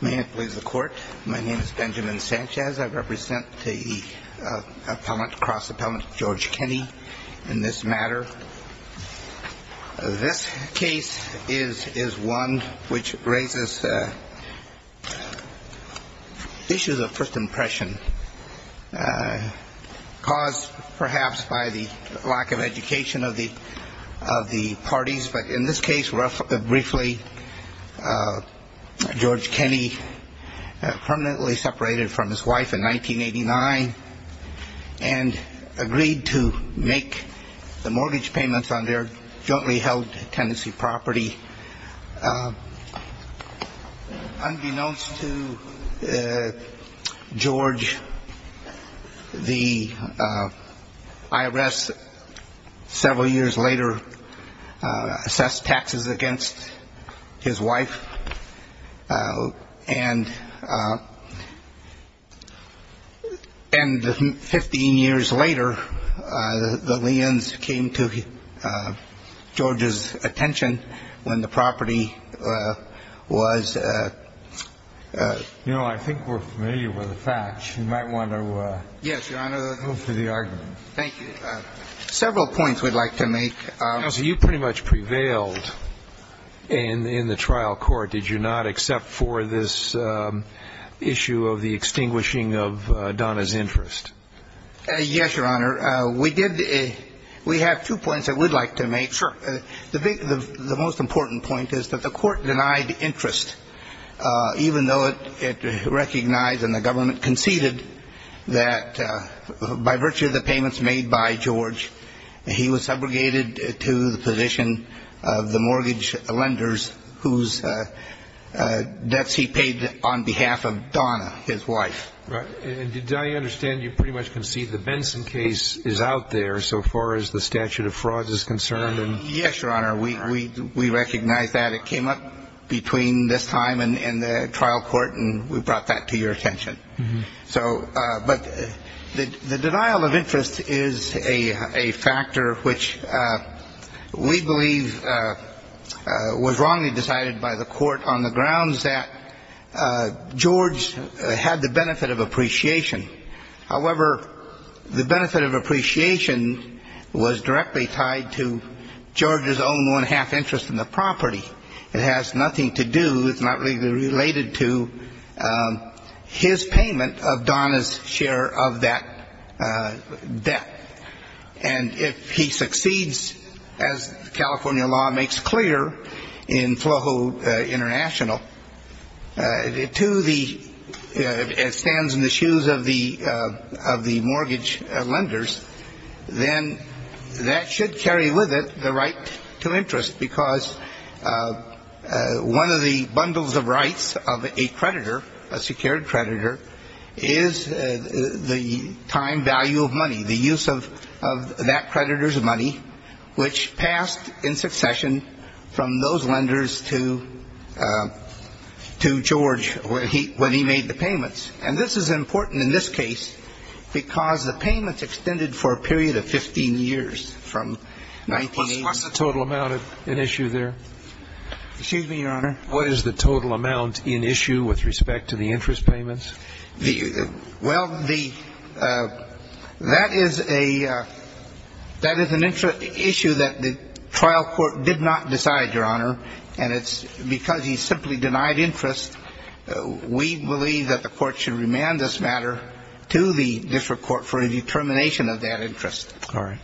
May it please the Court, my name is Benjamin Sanchez. I represent the cross-appellant George Kenney in this matter. This case is one which raises issues of first impression caused, perhaps, by the lack of education of the parties. But in this case, briefly, George Kenney permanently separated from his wife in 1989 and agreed to make the mortgage payments on their jointly held tenancy property. Unbeknownst to George, the IRS several years later assessed taxes against his wife. And 15 years later, the liens came to George's attention when the property was You know, I think we're familiar with the facts. You might want to move to the argument. Yes, Your Honor. Thank you. Several points we'd like to make. Counsel, you pretty much prevailed in the trial court. Did you not, except for this issue of the extinguishing of Donna's interest? Yes, Your Honor. We did we have two points that we'd like to make. Sure. The most important point is that the Court denied interest, even though it recognized and the government conceded that by virtue of the mortgage lenders whose debts he paid on behalf of Donna, his wife. Right. And did I understand you pretty much concede the Benson case is out there so far as the statute of frauds is concerned? Yes, Your Honor. We recognize that. It came up between this time and the trial court, and we brought that to your attention. So but the denial of interest is a factor which we believe was wrongly decided by the Court on the grounds that George had the benefit of appreciation. However, the benefit of appreciation was directly tied to George's own one-half interest in the property. It has nothing to do, it's not legally related to, his payment of Donna's share of that debt. And if he succeeds, as California law makes clear in FLOHO International, to the, it stands in the shoes of the mortgage lenders, then that should carry with it the right to interest, because one of the bundles of rights of a creditor, a secured creditor, is the time value of money, the use of that creditor's money, which passed in succession from those lenders to George when he made the payments. And this is important in this case because the payments extended for a period of 15 years from 1980. What's the total amount in issue there? Excuse me, Your Honor. What is the total amount in issue with respect to the interest payments? Well, the, that is a, that is an issue that the trial court did not decide, Your Honor, and it's because he simply denied interest. We believe that the Court should remand this matter to the district court for a determination of that interest. All right.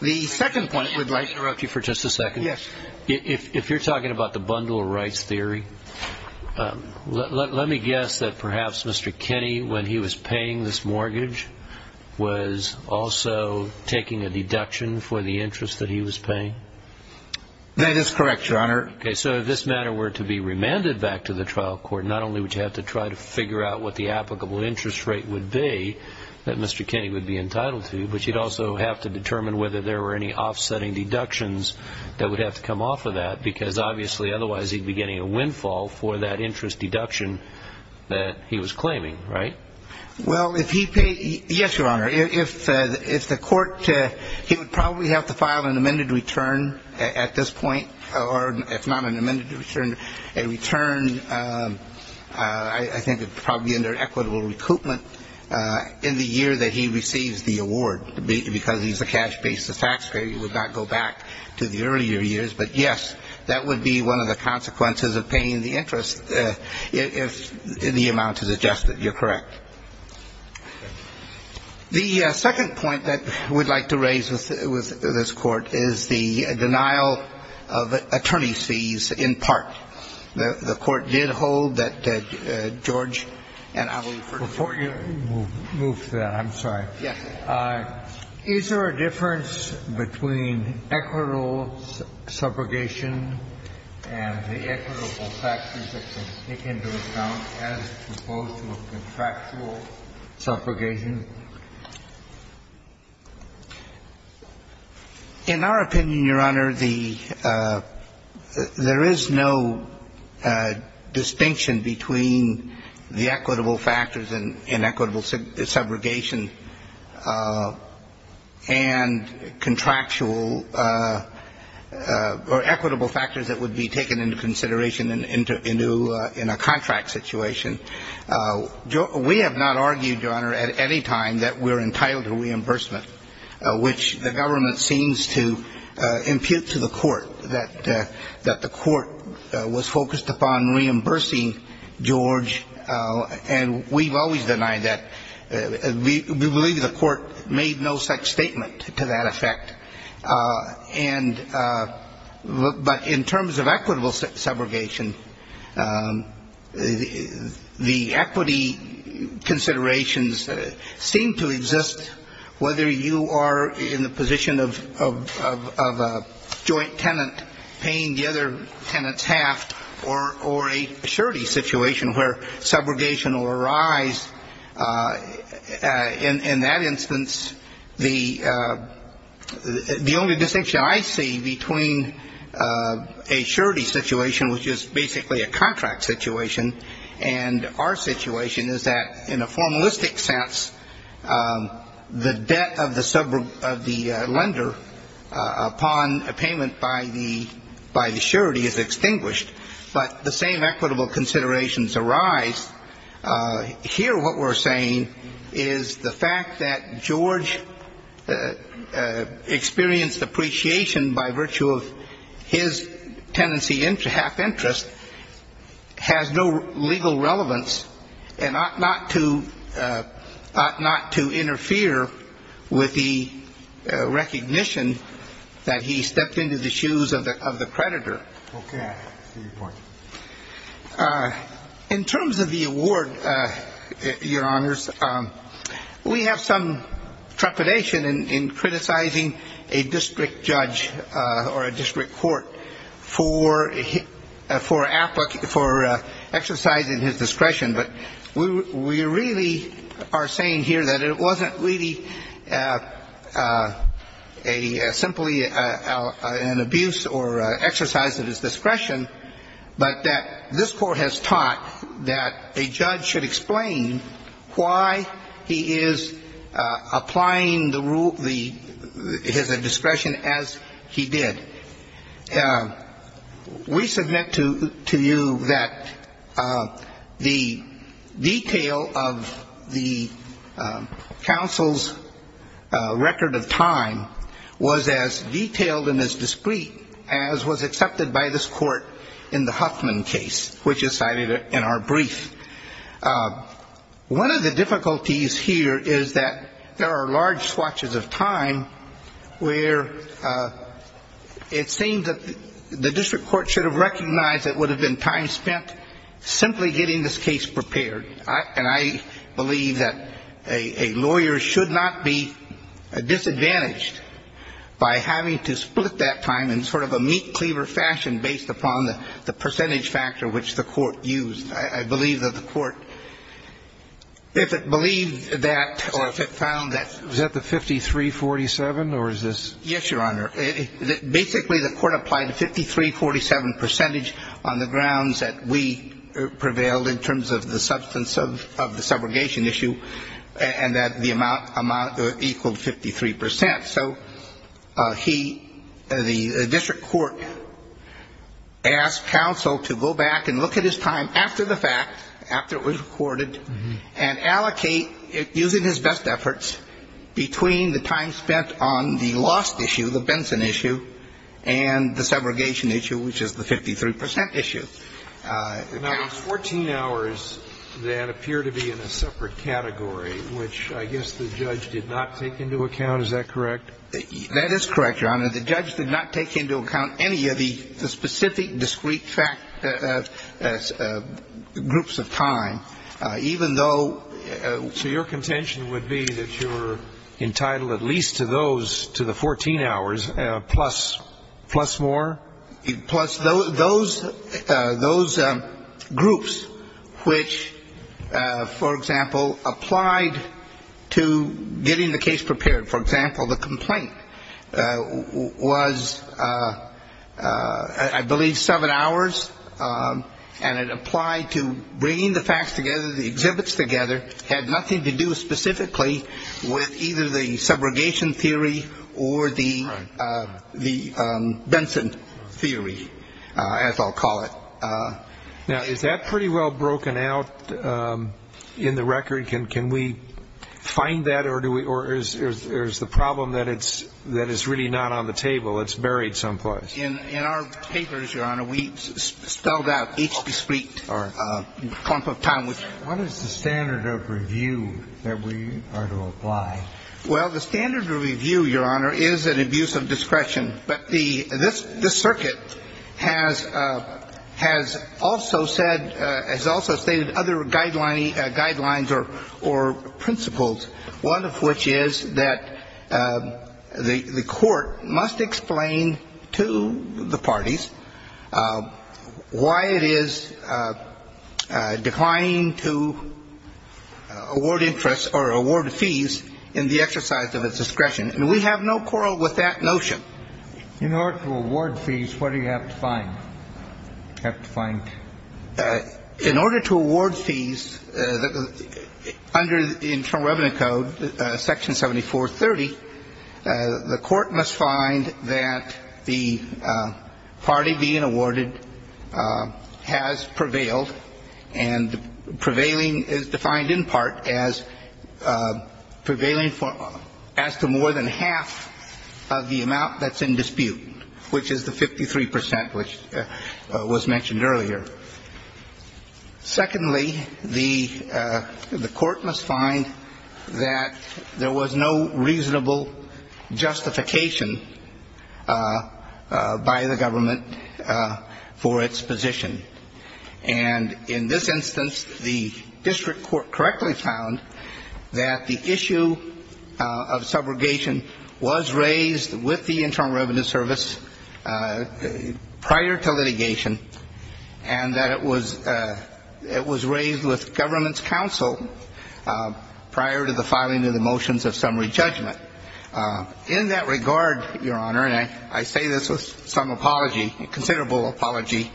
The second point, if I could interrupt you for just a second. Yes. If you're talking about the bundle of rights theory, let me guess that perhaps Mr. Kenney, when he was paying this mortgage, was also taking a deduction for the interest that he was paying? That is correct, Your Honor. Okay. So if this matter were to be remanded back to the trial court, not only would you have to try to figure out what the applicable interest rate would be that Mr. Kenney would be entitled to, but you'd also have to determine whether there were any offsetting deductions that would have to come off of that, because obviously otherwise he'd be getting a windfall for that interest deduction that he was claiming, right? Well, if he paid, yes, Your Honor, if the Court, he would probably have to file an amended return at this point, or if not an amended return, a return, I think it would probably be under equitable recoupment in the year that he receives the award, because he's a cash-based taxpayer, he would not go back to the earlier years. But, yes, that would be one of the consequences of paying the interest if the amount is adjusted. You're correct. The second point that we'd like to raise with this Court is the denial of attorney fees in part. The Court did hold that George and I will refer to that. We'll move to that. I'm sorry. Yes. Is there a difference between equitable subrogation and the equitable factors that they take into account as opposed to a contractual subrogation? In our opinion, Your Honor, the – there is no distinction between equitable subrogation and contractual – or equitable factors that would be taken into consideration in a contract situation. We have not argued, Your Honor, at any time that we're entitled to reimbursement, which the government seems to impute to the Court, that the Court was focused upon reimbursing George, and we've always denied that. We believe the Court made no such statement to that effect. And – but in terms of equitable subrogation, the equity considerations seem to exist, whether you are in the position of a joint tenant paying the other tenant's half or a surety situation where subrogation will arise. In that instance, the only distinction I see between a surety situation, which is basically a contract situation, and our situation is that in a formalistic sense, the debt of the lender upon a payment by the surety is extinguished, but the same equitable considerations arise. Here what we're saying is the fact that George experienced appreciation by virtue of his tenancy half interest has no legal relevance and ought not to – ought not to interfere with the recognition that he stepped into the shoes of the creditor. In terms of the award, Your Honors, we have some trepidation in criticizing a district judge or a district court for exercise in his discretion, but we really are saying here that it wasn't really a – simply an abuse or exercise of his discretion, but that this Court has taught that a judge should explain why he is applying the rule – his discretion as he did. We submit to you that the detail of the – of the court's decision to award the tenancy counsel's record of time was as detailed and as discreet as was accepted by this Court in the Huffman case, which is cited in our brief. One of the difficulties here is that there are large swatches of time where it seems that the district court should have recognized it would have been time spent simply getting this case prepared. And I believe that a lawyer should not be disadvantaged by having to split that time in sort of a meat cleaver fashion based upon the percentage factor which the court used. I believe that the court, if it believed that or if it found that – Was that the 5347 or is this – Yes, Your Honor. Basically, the court applied a 5347 percentage on the grounds that we prevailed in terms of the substance of the subrogation issue and that the amount equaled 53 percent. So he – the district court asked counsel to go back and look at his time after the fact, after it was recorded, and allocate, using his best efforts, between the time spent on the lost issue, the Benson issue, and the subrogation issue, which is the 53 percent issue. Now, there's 14 hours that appear to be in a separate category, which I guess the judge did not take into account. Is that correct? That is correct, Your Honor. The judge did not take into account any of the specific discrete groups of time, even though – So your contention would be that you're entitled at least to those, to the 14 hours, plus more? Plus those groups, which, for example, applied to getting the case prepared. For example, the complaint was, I believe, seven hours, and it applied to bringing the facts together, the exhibits together, had nothing to do specifically with either the subrogation theory or the Benson theory, as I'll call it. Now, is that pretty well broken out in the record? Can we find that, or is the problem that it's really not on the table? It's buried someplace. In our papers, Your Honor, we spelled out each discrete group of time. What is the standard of review that we are to apply? Well, the standard of review, Your Honor, is an abuse of discretion. But the – this circuit has also said – has also stated other guidelines or principles, one of which is that the court must explain to the parties why it is declining to award interest or award fees in the exercise of its discretion. And we have no quarrel with that notion. In order to award fees, what do you have to find? In order to award fees, under the Internal Revenue Code, Section 7430, the court must find that the party being awarded has prevailed, and prevailing is defined in part as the party prevailing as to more than half of the amount that's in dispute, which is the 53 percent, which was mentioned earlier. Secondly, the court must find that there was no reasonable justification by the government for its position. And in this instance, the district court correctly found that the issue of subrogation was raised with the Internal Revenue Service prior to litigation, and that it was – it was raised with government's counsel prior to the filing of the motions of summary judgment. In that regard, Your Honor, and I say this with some apology, considerable apology,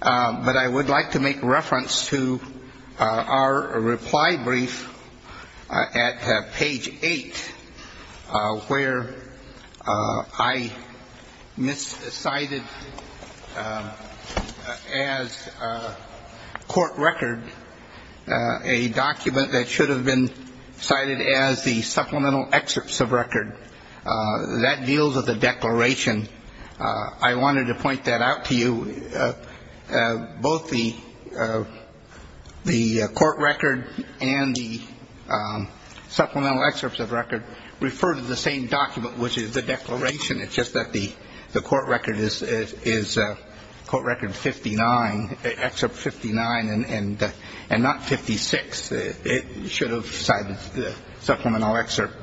but I would like to make reference to our reply brief at page 8, where I miscited as court record a document that should have been cited as the supplemental excerpts of record. That deals with the declaration. I wanted to point that out to you. Both the court record and the supplemental excerpts of record refer to the same document, which is the declaration. It's just that the court record is – court record 59, excerpt 59, and not 56. It should have cited the supplemental excerpt.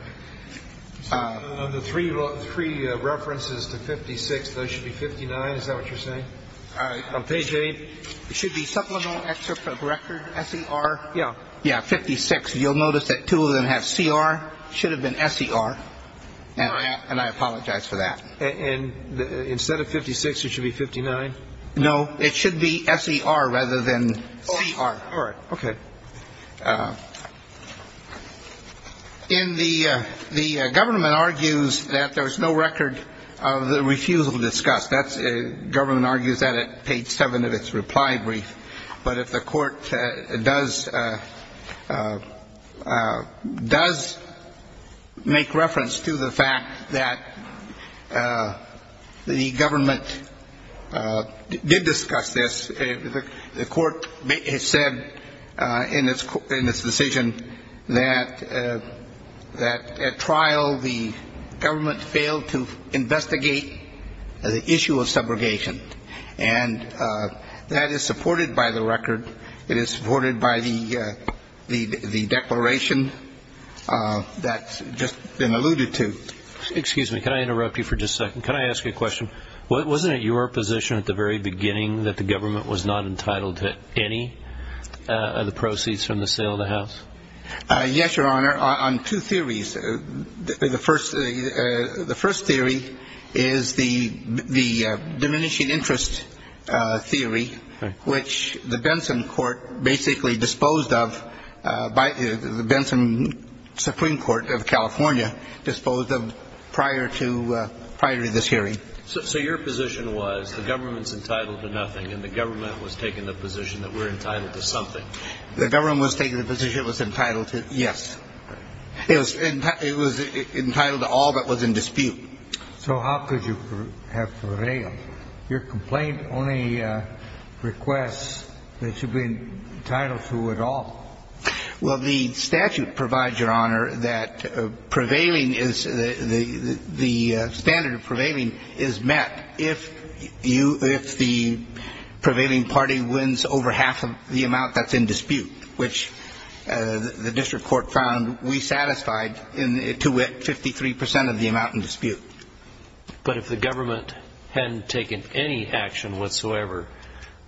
The three references to 56, those should be 59. Is that what you're saying? On page 8. It should be supplemental excerpt of record, S-E-R, yeah, 56. You'll notice that two of them have C-R, should have been S-E-R, and I apologize for that. And instead of 56, it should be 59? No. It should be S-E-R rather than C-R. All right. Okay. In the – the government argues that there's no record of the refusal to discuss. That's – government argues that at page 7 of its reply brief. But if the court does make reference to the fact that the government did discuss this, the court has said in its decision that at trial the government failed to investigate the issue of subrogation. And that is supported by the record. It is supported by the declaration. That's just been alluded to. Excuse me. Can I interrupt you for just a second? Can I ask you a question? Wasn't it your position at the very beginning that the government was not entitled to any of the proceeds from the sale of the house? Yes, Your Honor. On two theories. The first theory is the diminishing interest theory, which the Benson Court basically disposed of by – the Benson Supreme Court of California disposed of prior to – prior to this hearing. So your position was the government's entitled to nothing and the government was taking the position that we're entitled to something? The government was taking the position it was entitled to – yes. It was entitled to all that was in dispute. So how could you have prevailed? Your complaint only requests that you be entitled to it all. Well, the statute provides, Your Honor, that prevailing is – the standard of prevailing is met if you – if the prevailing party wins over half of the amount that's in dispute, which the district court found we satisfied to get 53 percent of the amount in dispute. But if the government hadn't taken any action whatsoever,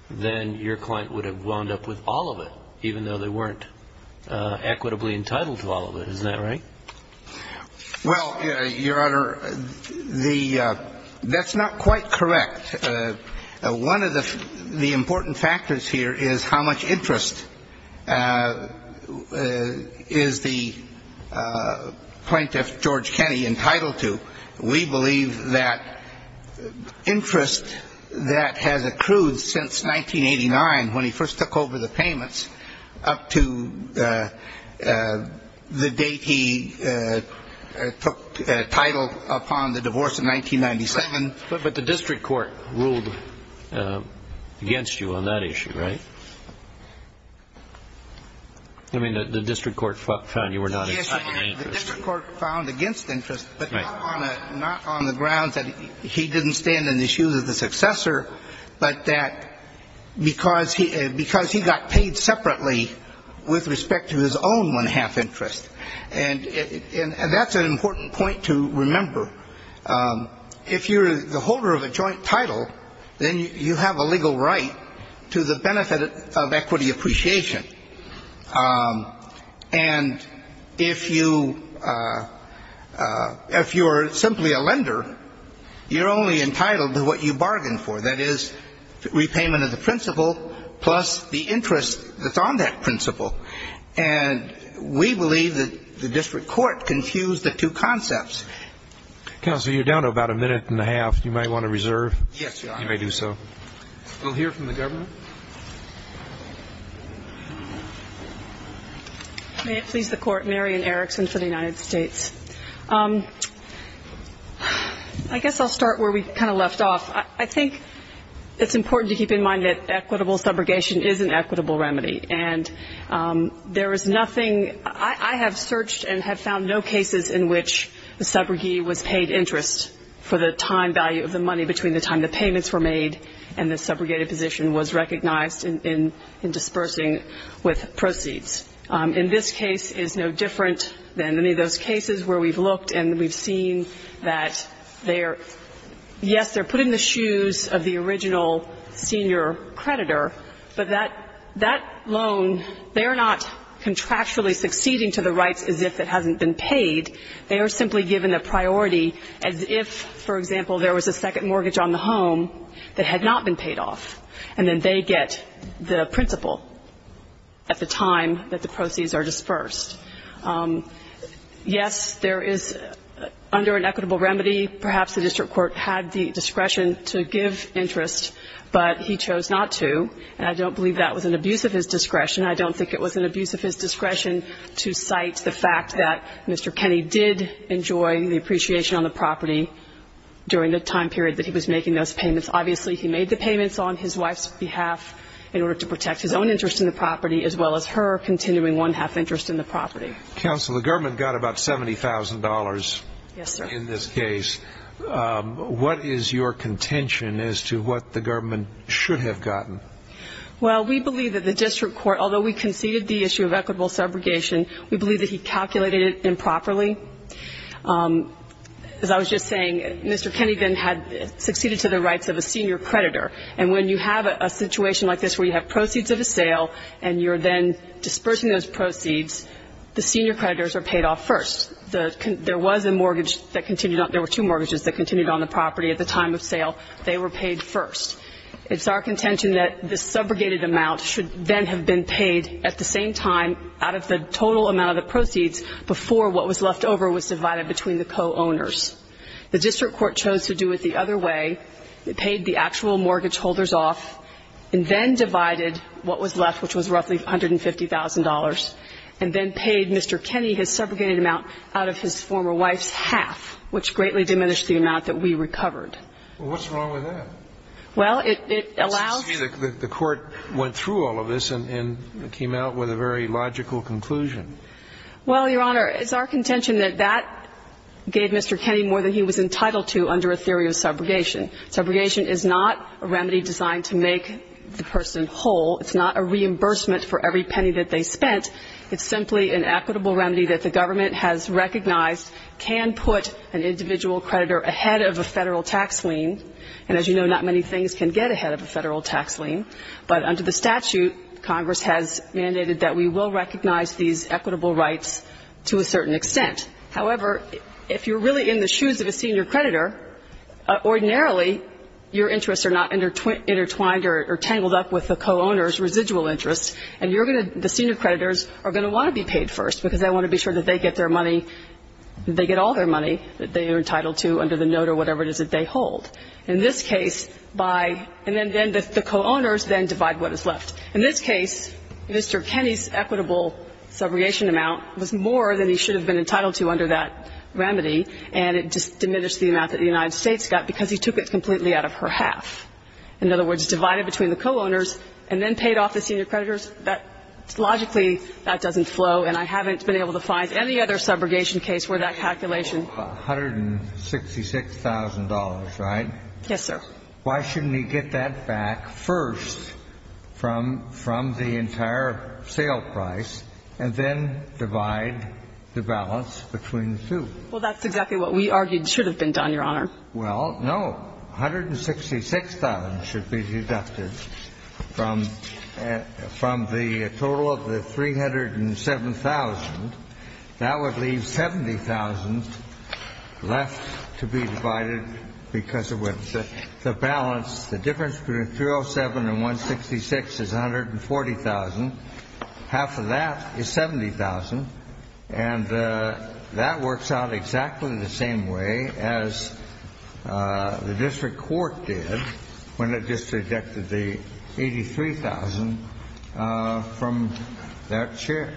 then your client would have wound up with all of it, even though they weren't equitably entitled to all of it. Isn't that right? Well, Your Honor, the – that's not quite correct. One of the important factors here is how much interest is the plaintiff, George Kenney, entitled to. We believe that interest that has accrued since 1989, when he first took over the payments, up to the date he took title upon the divorce in 1997. But the district court ruled against you on that issue, right? I mean, the district court found you were not entitled to interest, but not on the grounds that he didn't stand in the shoes of the successor, but that because he got paid separately with respect to his own one-half interest. And that's an important point to remember. If you're the holder of a joint title, then you have a legal right to the benefit of equity appreciation. And if you are simply a lender, you're only entitled to what you bargained for, that is, repayment of the principal plus the interest that's on that principal. And we believe that the district court confused the two concepts. Counsel, you're down to about a minute and a half. You might want to reserve. Yes, Your Honor. May it please the Court. Mary Ann Erickson for the United States. I guess I'll start where we kind of left off. I think it's important to keep in mind that equitable subrogation is an equitable remedy. And there is nothing ‑‑ I have searched and have found no cases in which the subrogee was paid interest for the time value of the money between the time the payments were made and the subrogated position was recognized in disbursing with proceeds. In this case, it's no different than any of those cases where we've looked and we've seen that they are ‑‑ yes, they're put in the shoes of the original senior creditor, but that loan, they are not contractually succeeding to the rights as if it hasn't been paid. They are simply given a priority as if, for example, there was a second mortgage on the home, and they were given a second mortgage on the home that had not been paid off, and then they get the principal at the time that the proceeds are disbursed. Yes, there is ‑‑ under an equitable remedy, perhaps the district court had the discretion to give interest, but he chose not to, and I don't believe that was an abuse of his discretion. I don't think it was an abuse of his discretion to cite the fact that Mr. Kenney did enjoy the appreciation on the property during the time period that he was paying his payments. Obviously, he made the payments on his wife's behalf in order to protect his own interest in the property, as well as her continuing one‑half interest in the property. Counsel, the government got about $70,000 in this case. What is your contention as to what the government should have gotten? Well, we believe that the district court, although we conceded the issue of equitable subrogation, we believe that he should have gotten the rights of a senior creditor. And when you have a situation like this where you have proceeds of a sale, and you're then disbursing those proceeds, the senior creditors are paid off first. There was a mortgage that continued on ‑‑ there were two mortgages that continued on the property at the time of sale. They were paid first. It's our contention that the subrogated amount should then have been paid at the same time out of the total amount of the proceeds before what was left over was divided between the co‑owners. The district court chose to do it the other way. It paid the actual mortgage holders off and then divided what was left, which was roughly $150,000, and then paid Mr. Kenny his subrogated amount out of his former wife's half, which greatly diminished the amount that we recovered. Well, what's wrong with that? Well, it allows ‑‑ Excuse me. The court went through all of this and came out with a very logical conclusion. Well, Your Honor, it's our contention that that gave Mr. Kenny more than he was entitled to under a theory of subrogation. Subrogation is not a remedy designed to make the person whole. It's not a reimbursement for every penny that they spent. It's simply an equitable remedy that the government has recognized can put an individual creditor ahead of a federal tax lien. And as you know, not many things can get ahead of a federal tax lien, but under the statute, Congress has mandated that we will recognize these equitable rights to a certain extent. However, if you're really in the shoes of a senior creditor, ordinarily your interests are not intertwined or tangled up with the co‑owner's residual interests, and you're going to ‑‑ the senior creditors are going to want to be paid first, because they want to be sure that they get their money, that they get all their money that they are entitled to under the note or whatever it is that they hold. In this case, Mr. Kenny's equitable subrogation amount was more than he should have been entitled to under that remedy, and it diminished the amount that the United States got because he took it completely out of her half. In other words, divided between the co‑owners and then paid off the senior creditors, logically that doesn't flow, and I haven't been able to find any other subrogation case where that calculation has been done. And so, Mr. Kenny's equitable subrogation amount is $166,000, right? Yes, sir. Why shouldn't he get that back first from the entire sale price and then divide the balance between the two? Well, that's exactly what we argued should have been done, Your Honor. Well, no. $166,000 should be deducted from the total of the $307,000. That would leave $70,000 left to be divided because of the balance. The difference between $307,000 and $166,000 is $140,000. Half of that is $70,000. And that works out exactly the same way as the district court did when it just deducted the $83,000 from that share.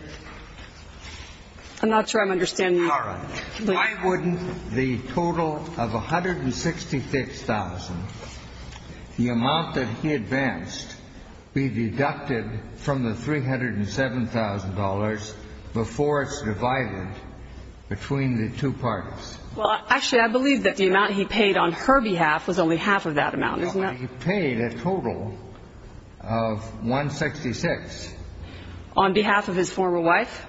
I'm not sure I'm understanding. All right. Why wouldn't the total of $166,000, the amount that he advanced, be deducted from the $307,000 before it's divided between the two parts? Well, actually, I believe that the amount he paid on her behalf was only half of that amount, isn't it? No. He paid a total of $166,000. On behalf of his former wife?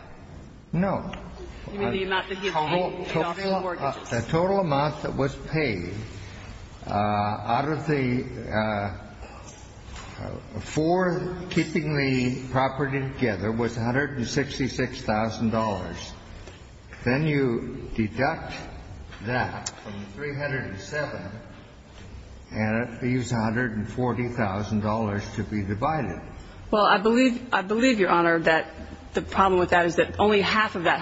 No. You mean the amount that he paid off his mortgages? The total amount that was paid out of the four keeping the property together was $166,000. Then you deduct that from the $307,000, and it leaves $140,000 to be divided. Well, I believe, Your Honor, that the problem with that is that only half of that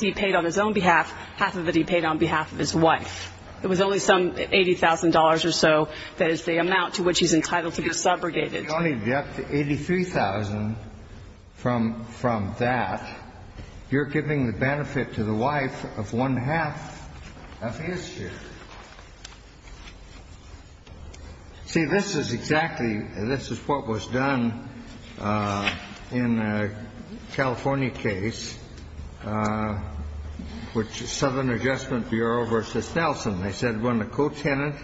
he paid on his own behalf, half of it he paid on behalf of his wife. It was only some $80,000 or so that is the amount to which he's entitled to be subrogated. If you only deduct the $83,000 from that, you're giving the benefit to the wife of one-half of his share. See, this is exactly this is what was done in a California case. Southern Adjustment Bureau v. Nelson. They said when a co-tenant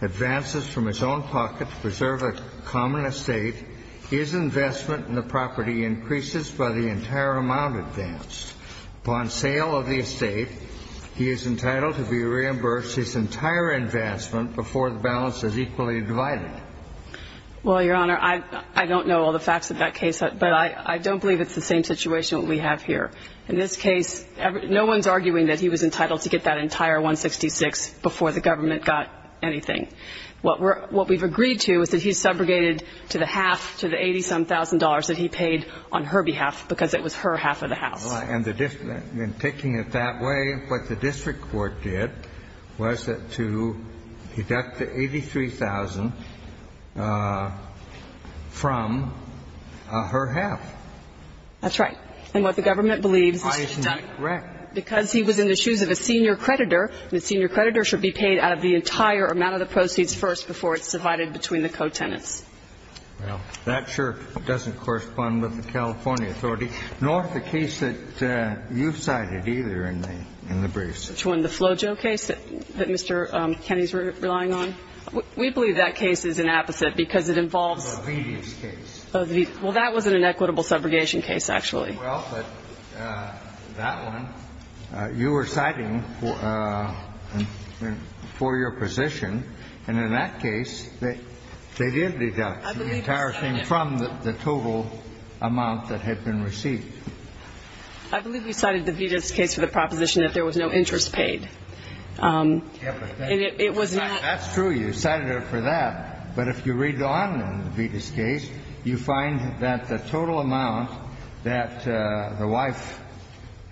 advances from his own pocket to preserve a common estate, his investment in the property increases by the entire amount advanced. Upon sale of the estate, he is entitled to be reimbursed his entire investment before the balance is equally divided. Well, Your Honor, I don't know all the facts of that case, but I don't believe it's the same situation that we have here. In this case, no one's arguing that he was entitled to get that entire $166,000 before the government got anything. What we've agreed to is that he's subrogated to the half, to the $80,000 that he paid on her behalf because it was her half of the house. And taking it that way, what the district court did was to deduct the $83,000 from her half. That's right. And what the government believes is that because he was in the shoes of a senior creditor, the senior creditor should be paid out of the entire amount of the proceeds first before it's divided between the co-tenants. Well, that sure doesn't correspond with the California authority, nor the case that you've cited either in the briefs. Which one? The Flojo case that Mr. Kenney's relying on? We believe that case is an opposite because it involves. The Veedeus case. Oh, the Veedeus. Well, that was an inequitable subrogation case, actually. Well, but that one, you were citing for your position. And in that case, they did deduct the entire thing from the total amount that had been received. I believe we cited the Veedeus case for the proposition that there was no interest paid. And it was not. That's true. You cited it for that. But if you read on in the Veedeus case, you find that the total amount that the wife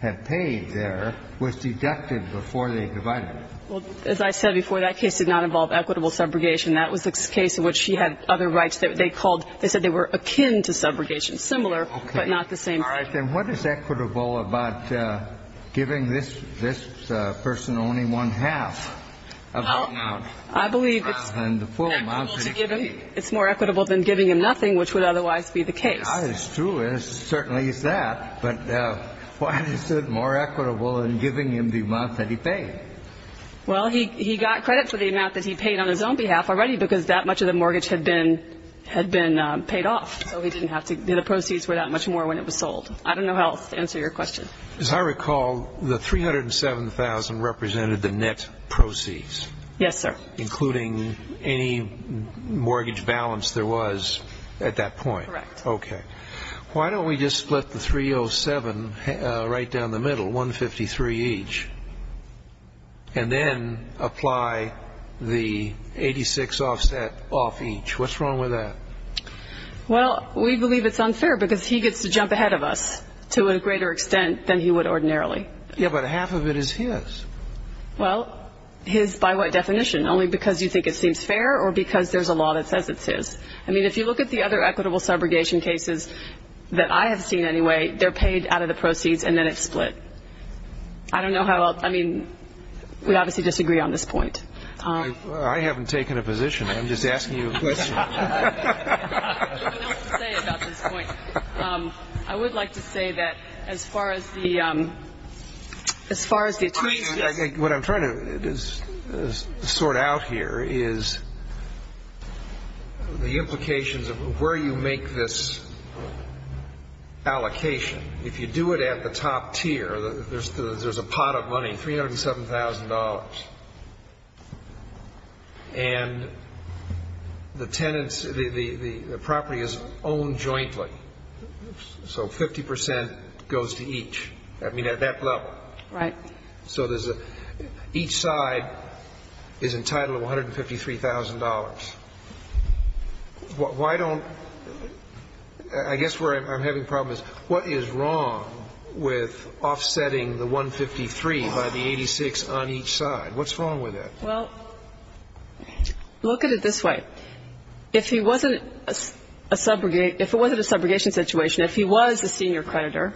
had paid there was deducted before they divided it. Well, as I said before, that case did not involve equitable subrogation. That was the case in which she had other rights that they called they said they were akin to subrogation. Similar, but not the same. All right. Then what is equitable about giving this person only one-half of the amount? I believe it's more equitable than giving him nothing, which would otherwise be the case. It's true. It certainly is that. But why is it more equitable than giving him the amount that he paid? Well, he got credit for the amount that he paid on his own behalf already because that much of the mortgage had been paid off. So he didn't have to do the proceeds for that much more when it was sold. I don't know how else to answer your question. As I recall, the $307,000 represented the net proceeds. Yes, sir. Including any mortgage balance there was at that point. Correct. Okay. Why don't we just split the $307,000 right down the middle, $153,000 each, and then apply the $86,000 offset off each. What's wrong with that? Well, we believe it's unfair because he gets to jump ahead of us to a greater extent than he would ordinarily. Yeah, but half of it is his. Well, his by what definition? Only because you think it seems fair or because there's a law that says it's his. I mean, if you look at the other equitable subrogation cases that I have seen anyway, they're paid out of the proceeds and then it's split. I don't know how else. I mean, we obviously disagree on this point. I haven't taken a position. I'm just asking you a question. I don't know what else to say about this point. I would like to say that as far as the attorneys go. What I'm trying to sort out here is the implications of where you make this allocation. If you do it at the top tier, there's a pot of money, $307,000. And the tenants, the property is owned jointly. So 50 percent goes to each. I mean, at that level. Right. So there's a, each side is entitled to $153,000. Why don't, I guess where I'm having problems. What is wrong with offsetting the 153 by the 86 on each side? What's wrong with that? Well, look at it this way. If he wasn't a subrogate, if it wasn't a subrogation situation, if he was a senior creditor,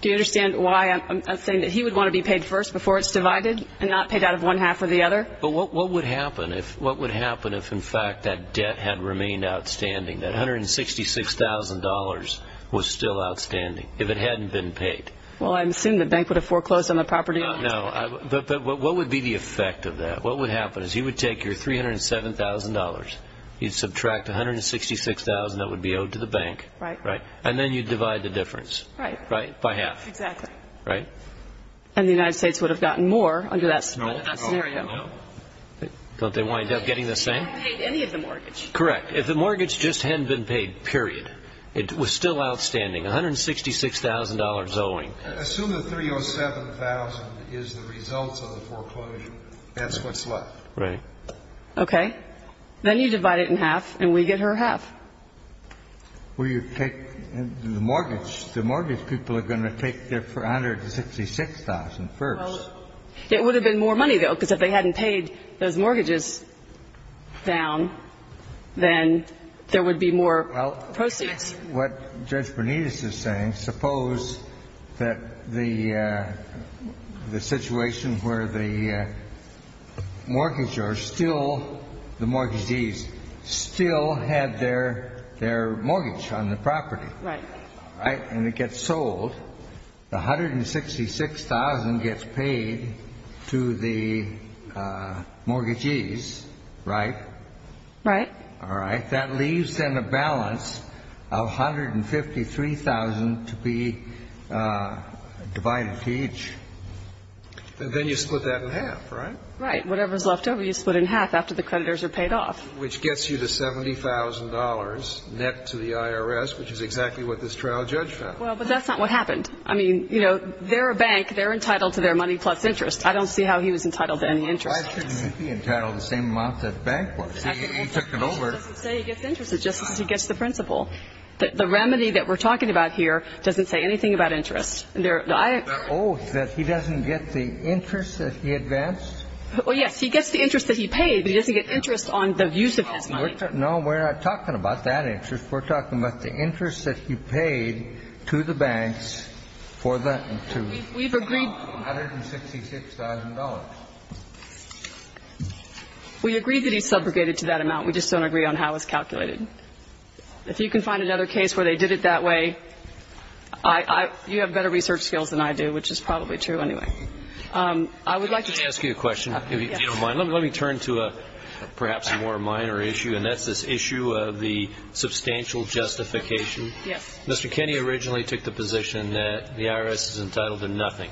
do you understand why I'm saying that he would want to be paid first before it's divided and not paid out of one half or the other? But what would happen if, what would happen if, in fact, that debt had remained outstanding, that $166,000 was still outstanding if it hadn't been paid? Well, I assume the bank would have foreclosed on the property. No. But what would be the effect of that? What would happen is he would take your $307,000. He'd subtract $166,000 that would be owed to the bank. Right. Right. And then you'd divide the difference. Right. By half. Exactly. Right. And the United States would have gotten more under that scenario. No. No. No. Don't they wind up getting the same? They wouldn't have paid any of the mortgage. Correct. If the mortgage just hadn't been paid, period, it was still outstanding, $166,000 owing. Assume the $307,000 is the result of the foreclosure. That's what's left. Right. Okay. Then you divide it in half and we get her half. Well, you take the mortgage. The mortgage people are going to take their $166,000 first. It would have been more money, though, because if they hadn't paid those mortgages down, then there would be more proceeds. Well, what Judge Bonetus is saying, suppose that the situation where the mortgage or still the mortgagees still had their mortgage on the property. Right. Right. And it gets sold. The $166,000 gets paid to the mortgagees, right? Right. All right. That leaves then a balance of $153,000 to be divided to each. And then you split that in half, right? Right. Whatever's left over, you split in half after the creditors are paid off. Which gets you the $70,000 net to the IRS, which is exactly what this trial judge found. Well, but that's not what happened. I mean, you know, they're a bank. They're entitled to their money plus interest. I don't see how he was entitled to any interest. Why shouldn't he be entitled to the same amount that the bank was? He took it over. He doesn't say he gets interest. It's just that he gets the principal. The remedy that we're talking about here doesn't say anything about interest. Oh, that he doesn't get the interest that he advanced? Well, yes. He gets the interest that he paid, but he doesn't get interest on the use of his money. No, we're not talking about that interest. We're talking about the interest that he paid to the banks for the $166,000. We agree that he subrogated to that amount. We just don't agree on how it's calculated. If you can find another case where they did it that way, you have better research skills than I do, which is probably true anyway. I would like to say to you. Let me ask you a question, if you don't mind. Let me turn to perhaps a more minor issue, and that's this issue of the substantial justification. Yes. Mr. Kenney originally took the position that the IRS is entitled to nothing,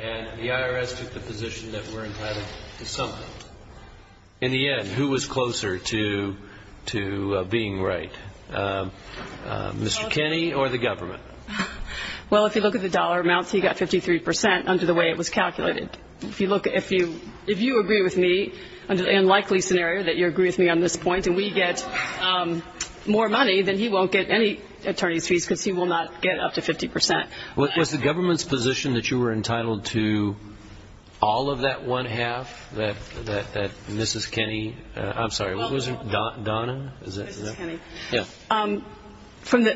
and the IRS took the position that we're entitled to something. In the end, who was closer to being right, Mr. Kenney or the government? Well, if you look at the dollar amounts, he got 53% under the way it was calculated. If you agree with me, and likely scenario that you agree with me on this point, and we get more money, then he won't get any attorney's fees because he will not get up to 50%. Was the government's position that you were entitled to all of that one half that Mrs. Kenney – I'm sorry, was it Donna? Mrs. Kenney. Yes. When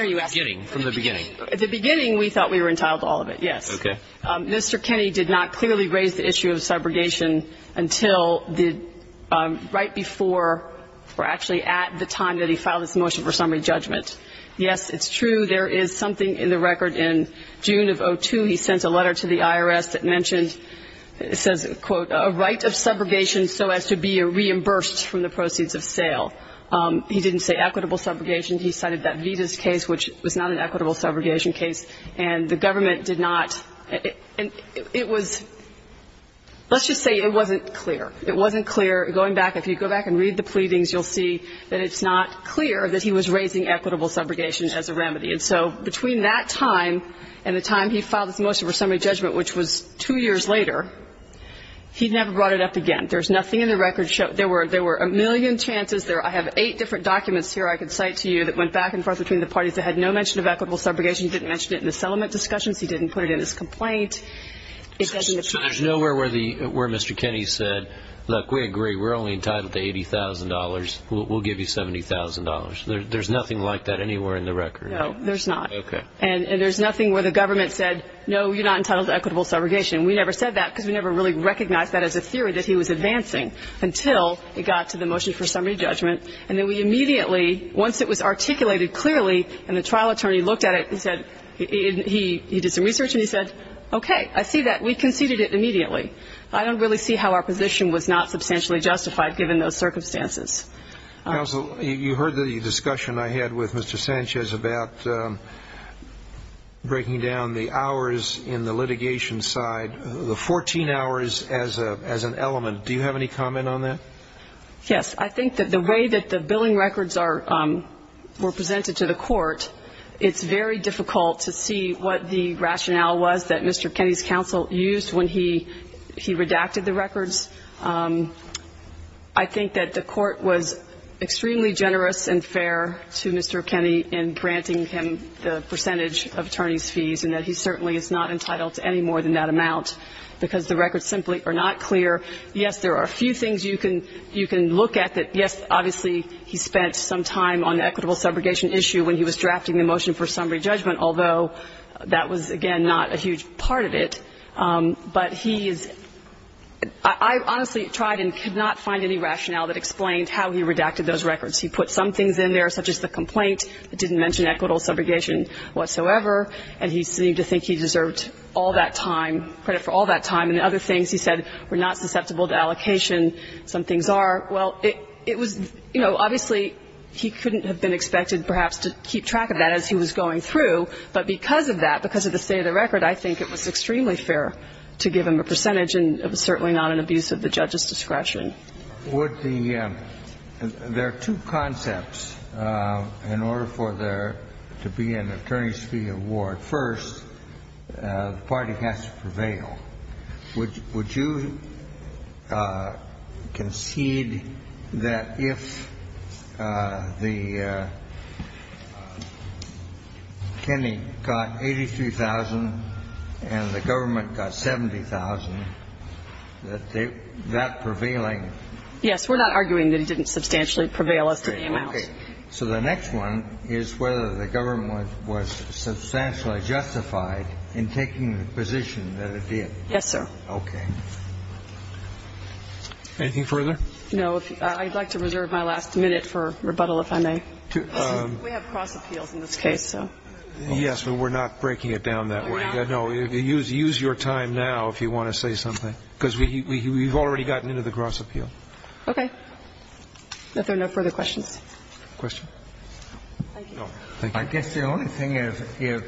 are you asking? From the beginning. From the beginning. At the beginning, we thought we were entitled to all of it, yes. Okay. Mr. Kenney did not clearly raise the issue of subrogation until the – right before or actually at the time that he filed his motion for summary judgment. Yes, it's true. There is something in the record in June of 2002. He sent a letter to the IRS that mentioned – it says, quote, a right of subrogation so as to be reimbursed from the proceeds of sale. He didn't say equitable subrogation. He cited that Vita's case, which was not an equitable subrogation case. And the government did not – it was – let's just say it wasn't clear. It wasn't clear. Going back, if you go back and read the pleadings, you'll see that it's not clear that he was raising equitable subrogation as a remedy. And so between that time and the time he filed his motion for summary judgment, which was two years later, he never brought it up again. There's nothing in the record – there were a million chances. I have eight different documents here I can cite to you that went back and forth between the parties that had no mention of equitable subrogation. He didn't mention it in the settlement discussions. He didn't put it in his complaint. So there's nowhere where Mr. Kenney said, look, we agree. We're only entitled to $80,000. We'll give you $70,000. There's nothing like that anywhere in the record. No, there's not. Okay. And there's nothing where the government said, no, you're not entitled to equitable subrogation. We never said that because we never really recognized that as a theory that he was advancing until it got to the motion for summary judgment. And then we immediately, once it was articulated clearly and the trial attorney looked at it and said – he did some research and he said, okay, I see that. We conceded it immediately. I don't really see how our position was not substantially justified, given those circumstances. Counsel, you heard the discussion I had with Mr. Sanchez about breaking down the hours in the litigation side, the 14 hours as an element. Do you have any comment on that? Yes. I think that the way that the billing records were presented to the court, it's very difficult to see what the rationale was that Mr. Kenney's counsel used when he redacted the records. I think that the court was extremely generous and fair to Mr. Kenney in granting him the percentage of attorney's fees and that he certainly is not entitled to any more than that amount because the records simply are not clear. Yes, there are a few things you can look at that, yes, obviously, he spent some time on the equitable subrogation issue when he was drafting the motion for summary judgment, although that was, again, not a huge part of it. But he is – I honestly tried and could not find any rationale that explained how he redacted those records. He put some things in there, such as the complaint. It didn't mention equitable subrogation whatsoever. And he seemed to think he deserved all that time, credit for all that time. And other things he said were not susceptible to allocation. Some things are. Well, it was, you know, obviously, he couldn't have been expected perhaps to keep track of that as he was going through. But because of that, because of the state of the record, I think it was extremely fair to give him a percentage, and it was certainly not an abuse of the judge's discretion. Would the – there are two concepts in order for there to be an attorney's fee award. The first, the party has to prevail. Would you concede that if the attorney got 83,000 and the government got 70,000, that that prevailing? Yes. We're not arguing that he didn't substantially prevail as to the amount. Okay. So the next one is whether the government was substantially justified in taking the position that it did. Yes, sir. Okay. Anything further? No. I'd like to reserve my last minute for rebuttal, if I may. We have cross appeals in this case, so. Yes, but we're not breaking it down that way. We're not? No. Use your time now if you want to say something, because we've already gotten into the cross appeal. Okay. If there are no further questions. Question? Thank you. I guess the only thing is if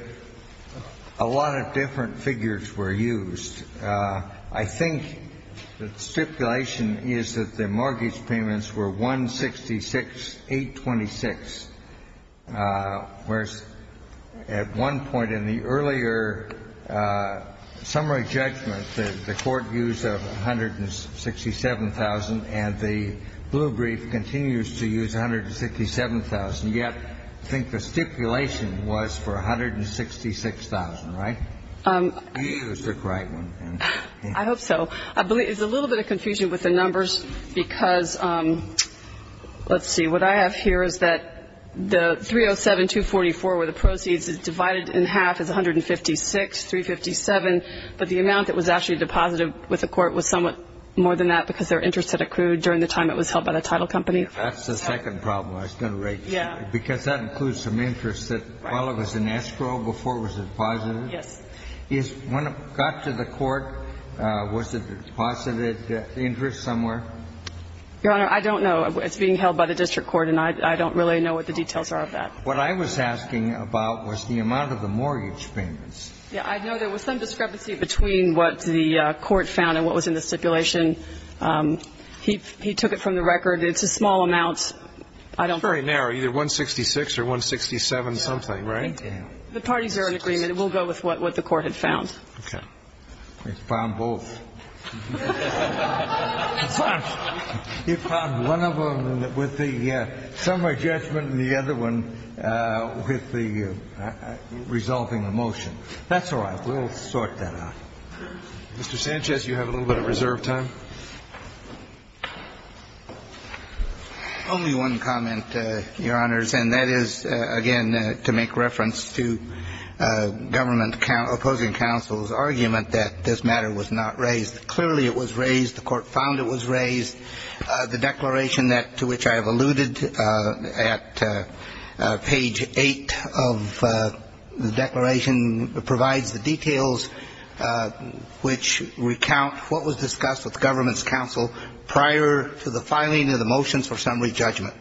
a lot of different figures were used, I think the stipulation is that the mortgage payments were 166,826, whereas at one point in the earlier summary judgment, the court used 167,000, and the blue brief continues to use 167,000. Yet I think the stipulation was for 166,000, right? You used the correct one. I hope so. I believe it's a little bit of confusion with the numbers, because let's see. What I have here is that the 307,244 where the proceeds is divided in half is 156,357, but the amount that was actually deposited with the court was somewhat more than that because their interest had accrued during the time it was held by the title company. That's the second problem I was going to raise. Yeah. Because that includes some interest that while it was in escrow, before it was deposited. Yes. When it got to the court, was it deposited interest somewhere? Your Honor, I don't know. It's being held by the district court, and I don't really know what the details are of that. What I was asking about was the amount of the mortgage payments. Yeah. I know there was some discrepancy between what the court found and what was in the stipulation. He took it from the record. It's a small amount. It's very narrow, either 166 or 167-something, right? The parties are in agreement. It will go with what the court had found. Okay. It found both. It found one of them with the summary judgment and the other one with the resolving the motion. That's all right. We'll sort that out. Mr. Sanchez, you have a little bit of reserve time. Only one comment, Your Honors, and that is, again, to make reference to government counsel's argument that this matter was not raised. Clearly, it was raised. The court found it was raised. The declaration to which I have alluded at page 8 of the declaration provides the details which recount what was discussed with government's counsel prior to the filing of the motions for summary judgment.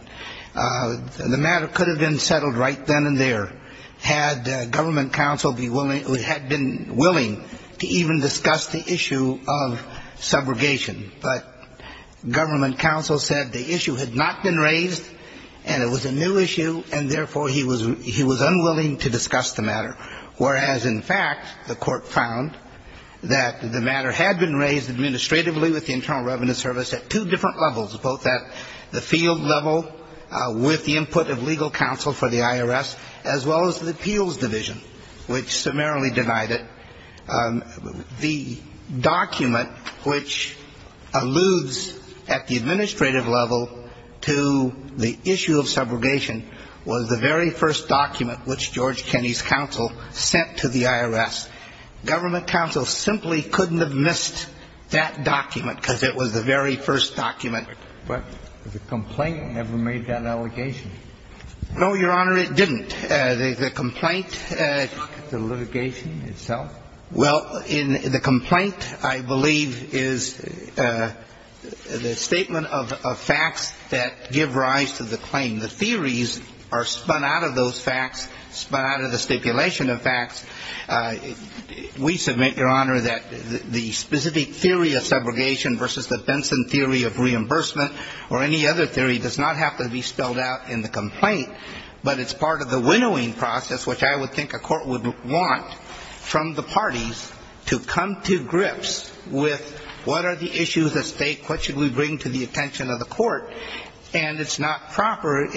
The matter could have been settled right then and there had government counsel been willing to even discuss the issue of subrogation. But government counsel said the issue had not been raised and it was a new issue, and therefore he was unwilling to discuss the matter, whereas, in fact, the court found that the matter had been raised administratively with the Internal Revenue Service at two different levels, both at the field level with the input of legal counsel for the IRS, as well as the appeals division, which summarily denied it. The document which alludes at the administrative level to the issue of subrogation was the very first document which George Kenney's counsel sent to the IRS. Government counsel simply couldn't have missed that document because it was the very first document. But the complaint never made that allegation. No, Your Honor, it didn't. The complaint ---- The litigation itself? Well, the complaint, I believe, is the statement of facts that give rise to the claim. The theories are spun out of those facts, spun out of the stipulation of facts. We submit, Your Honor, that the specific theory of subrogation versus the Benson theory of reimbursement or any other theory does not have to be spelled out in the complaint, but it's part of the winnowing process, which I would think a court would want from the parties to come to grips with what are the issues at stake, what should we bring to the attention of the court. And it's not proper,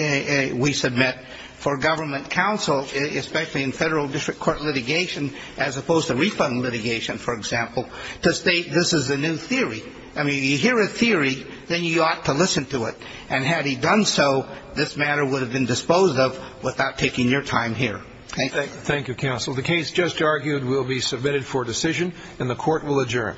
we submit, for government counsel, especially in federal district court litigation as opposed to refund litigation, for example, to state this is a new theory. I mean, you hear a theory, then you ought to listen to it. And had he done so, this matter would have been disposed of without taking your time here. Thank you. Thank you, counsel. The case just argued will be submitted for decision, and the court will adjourn.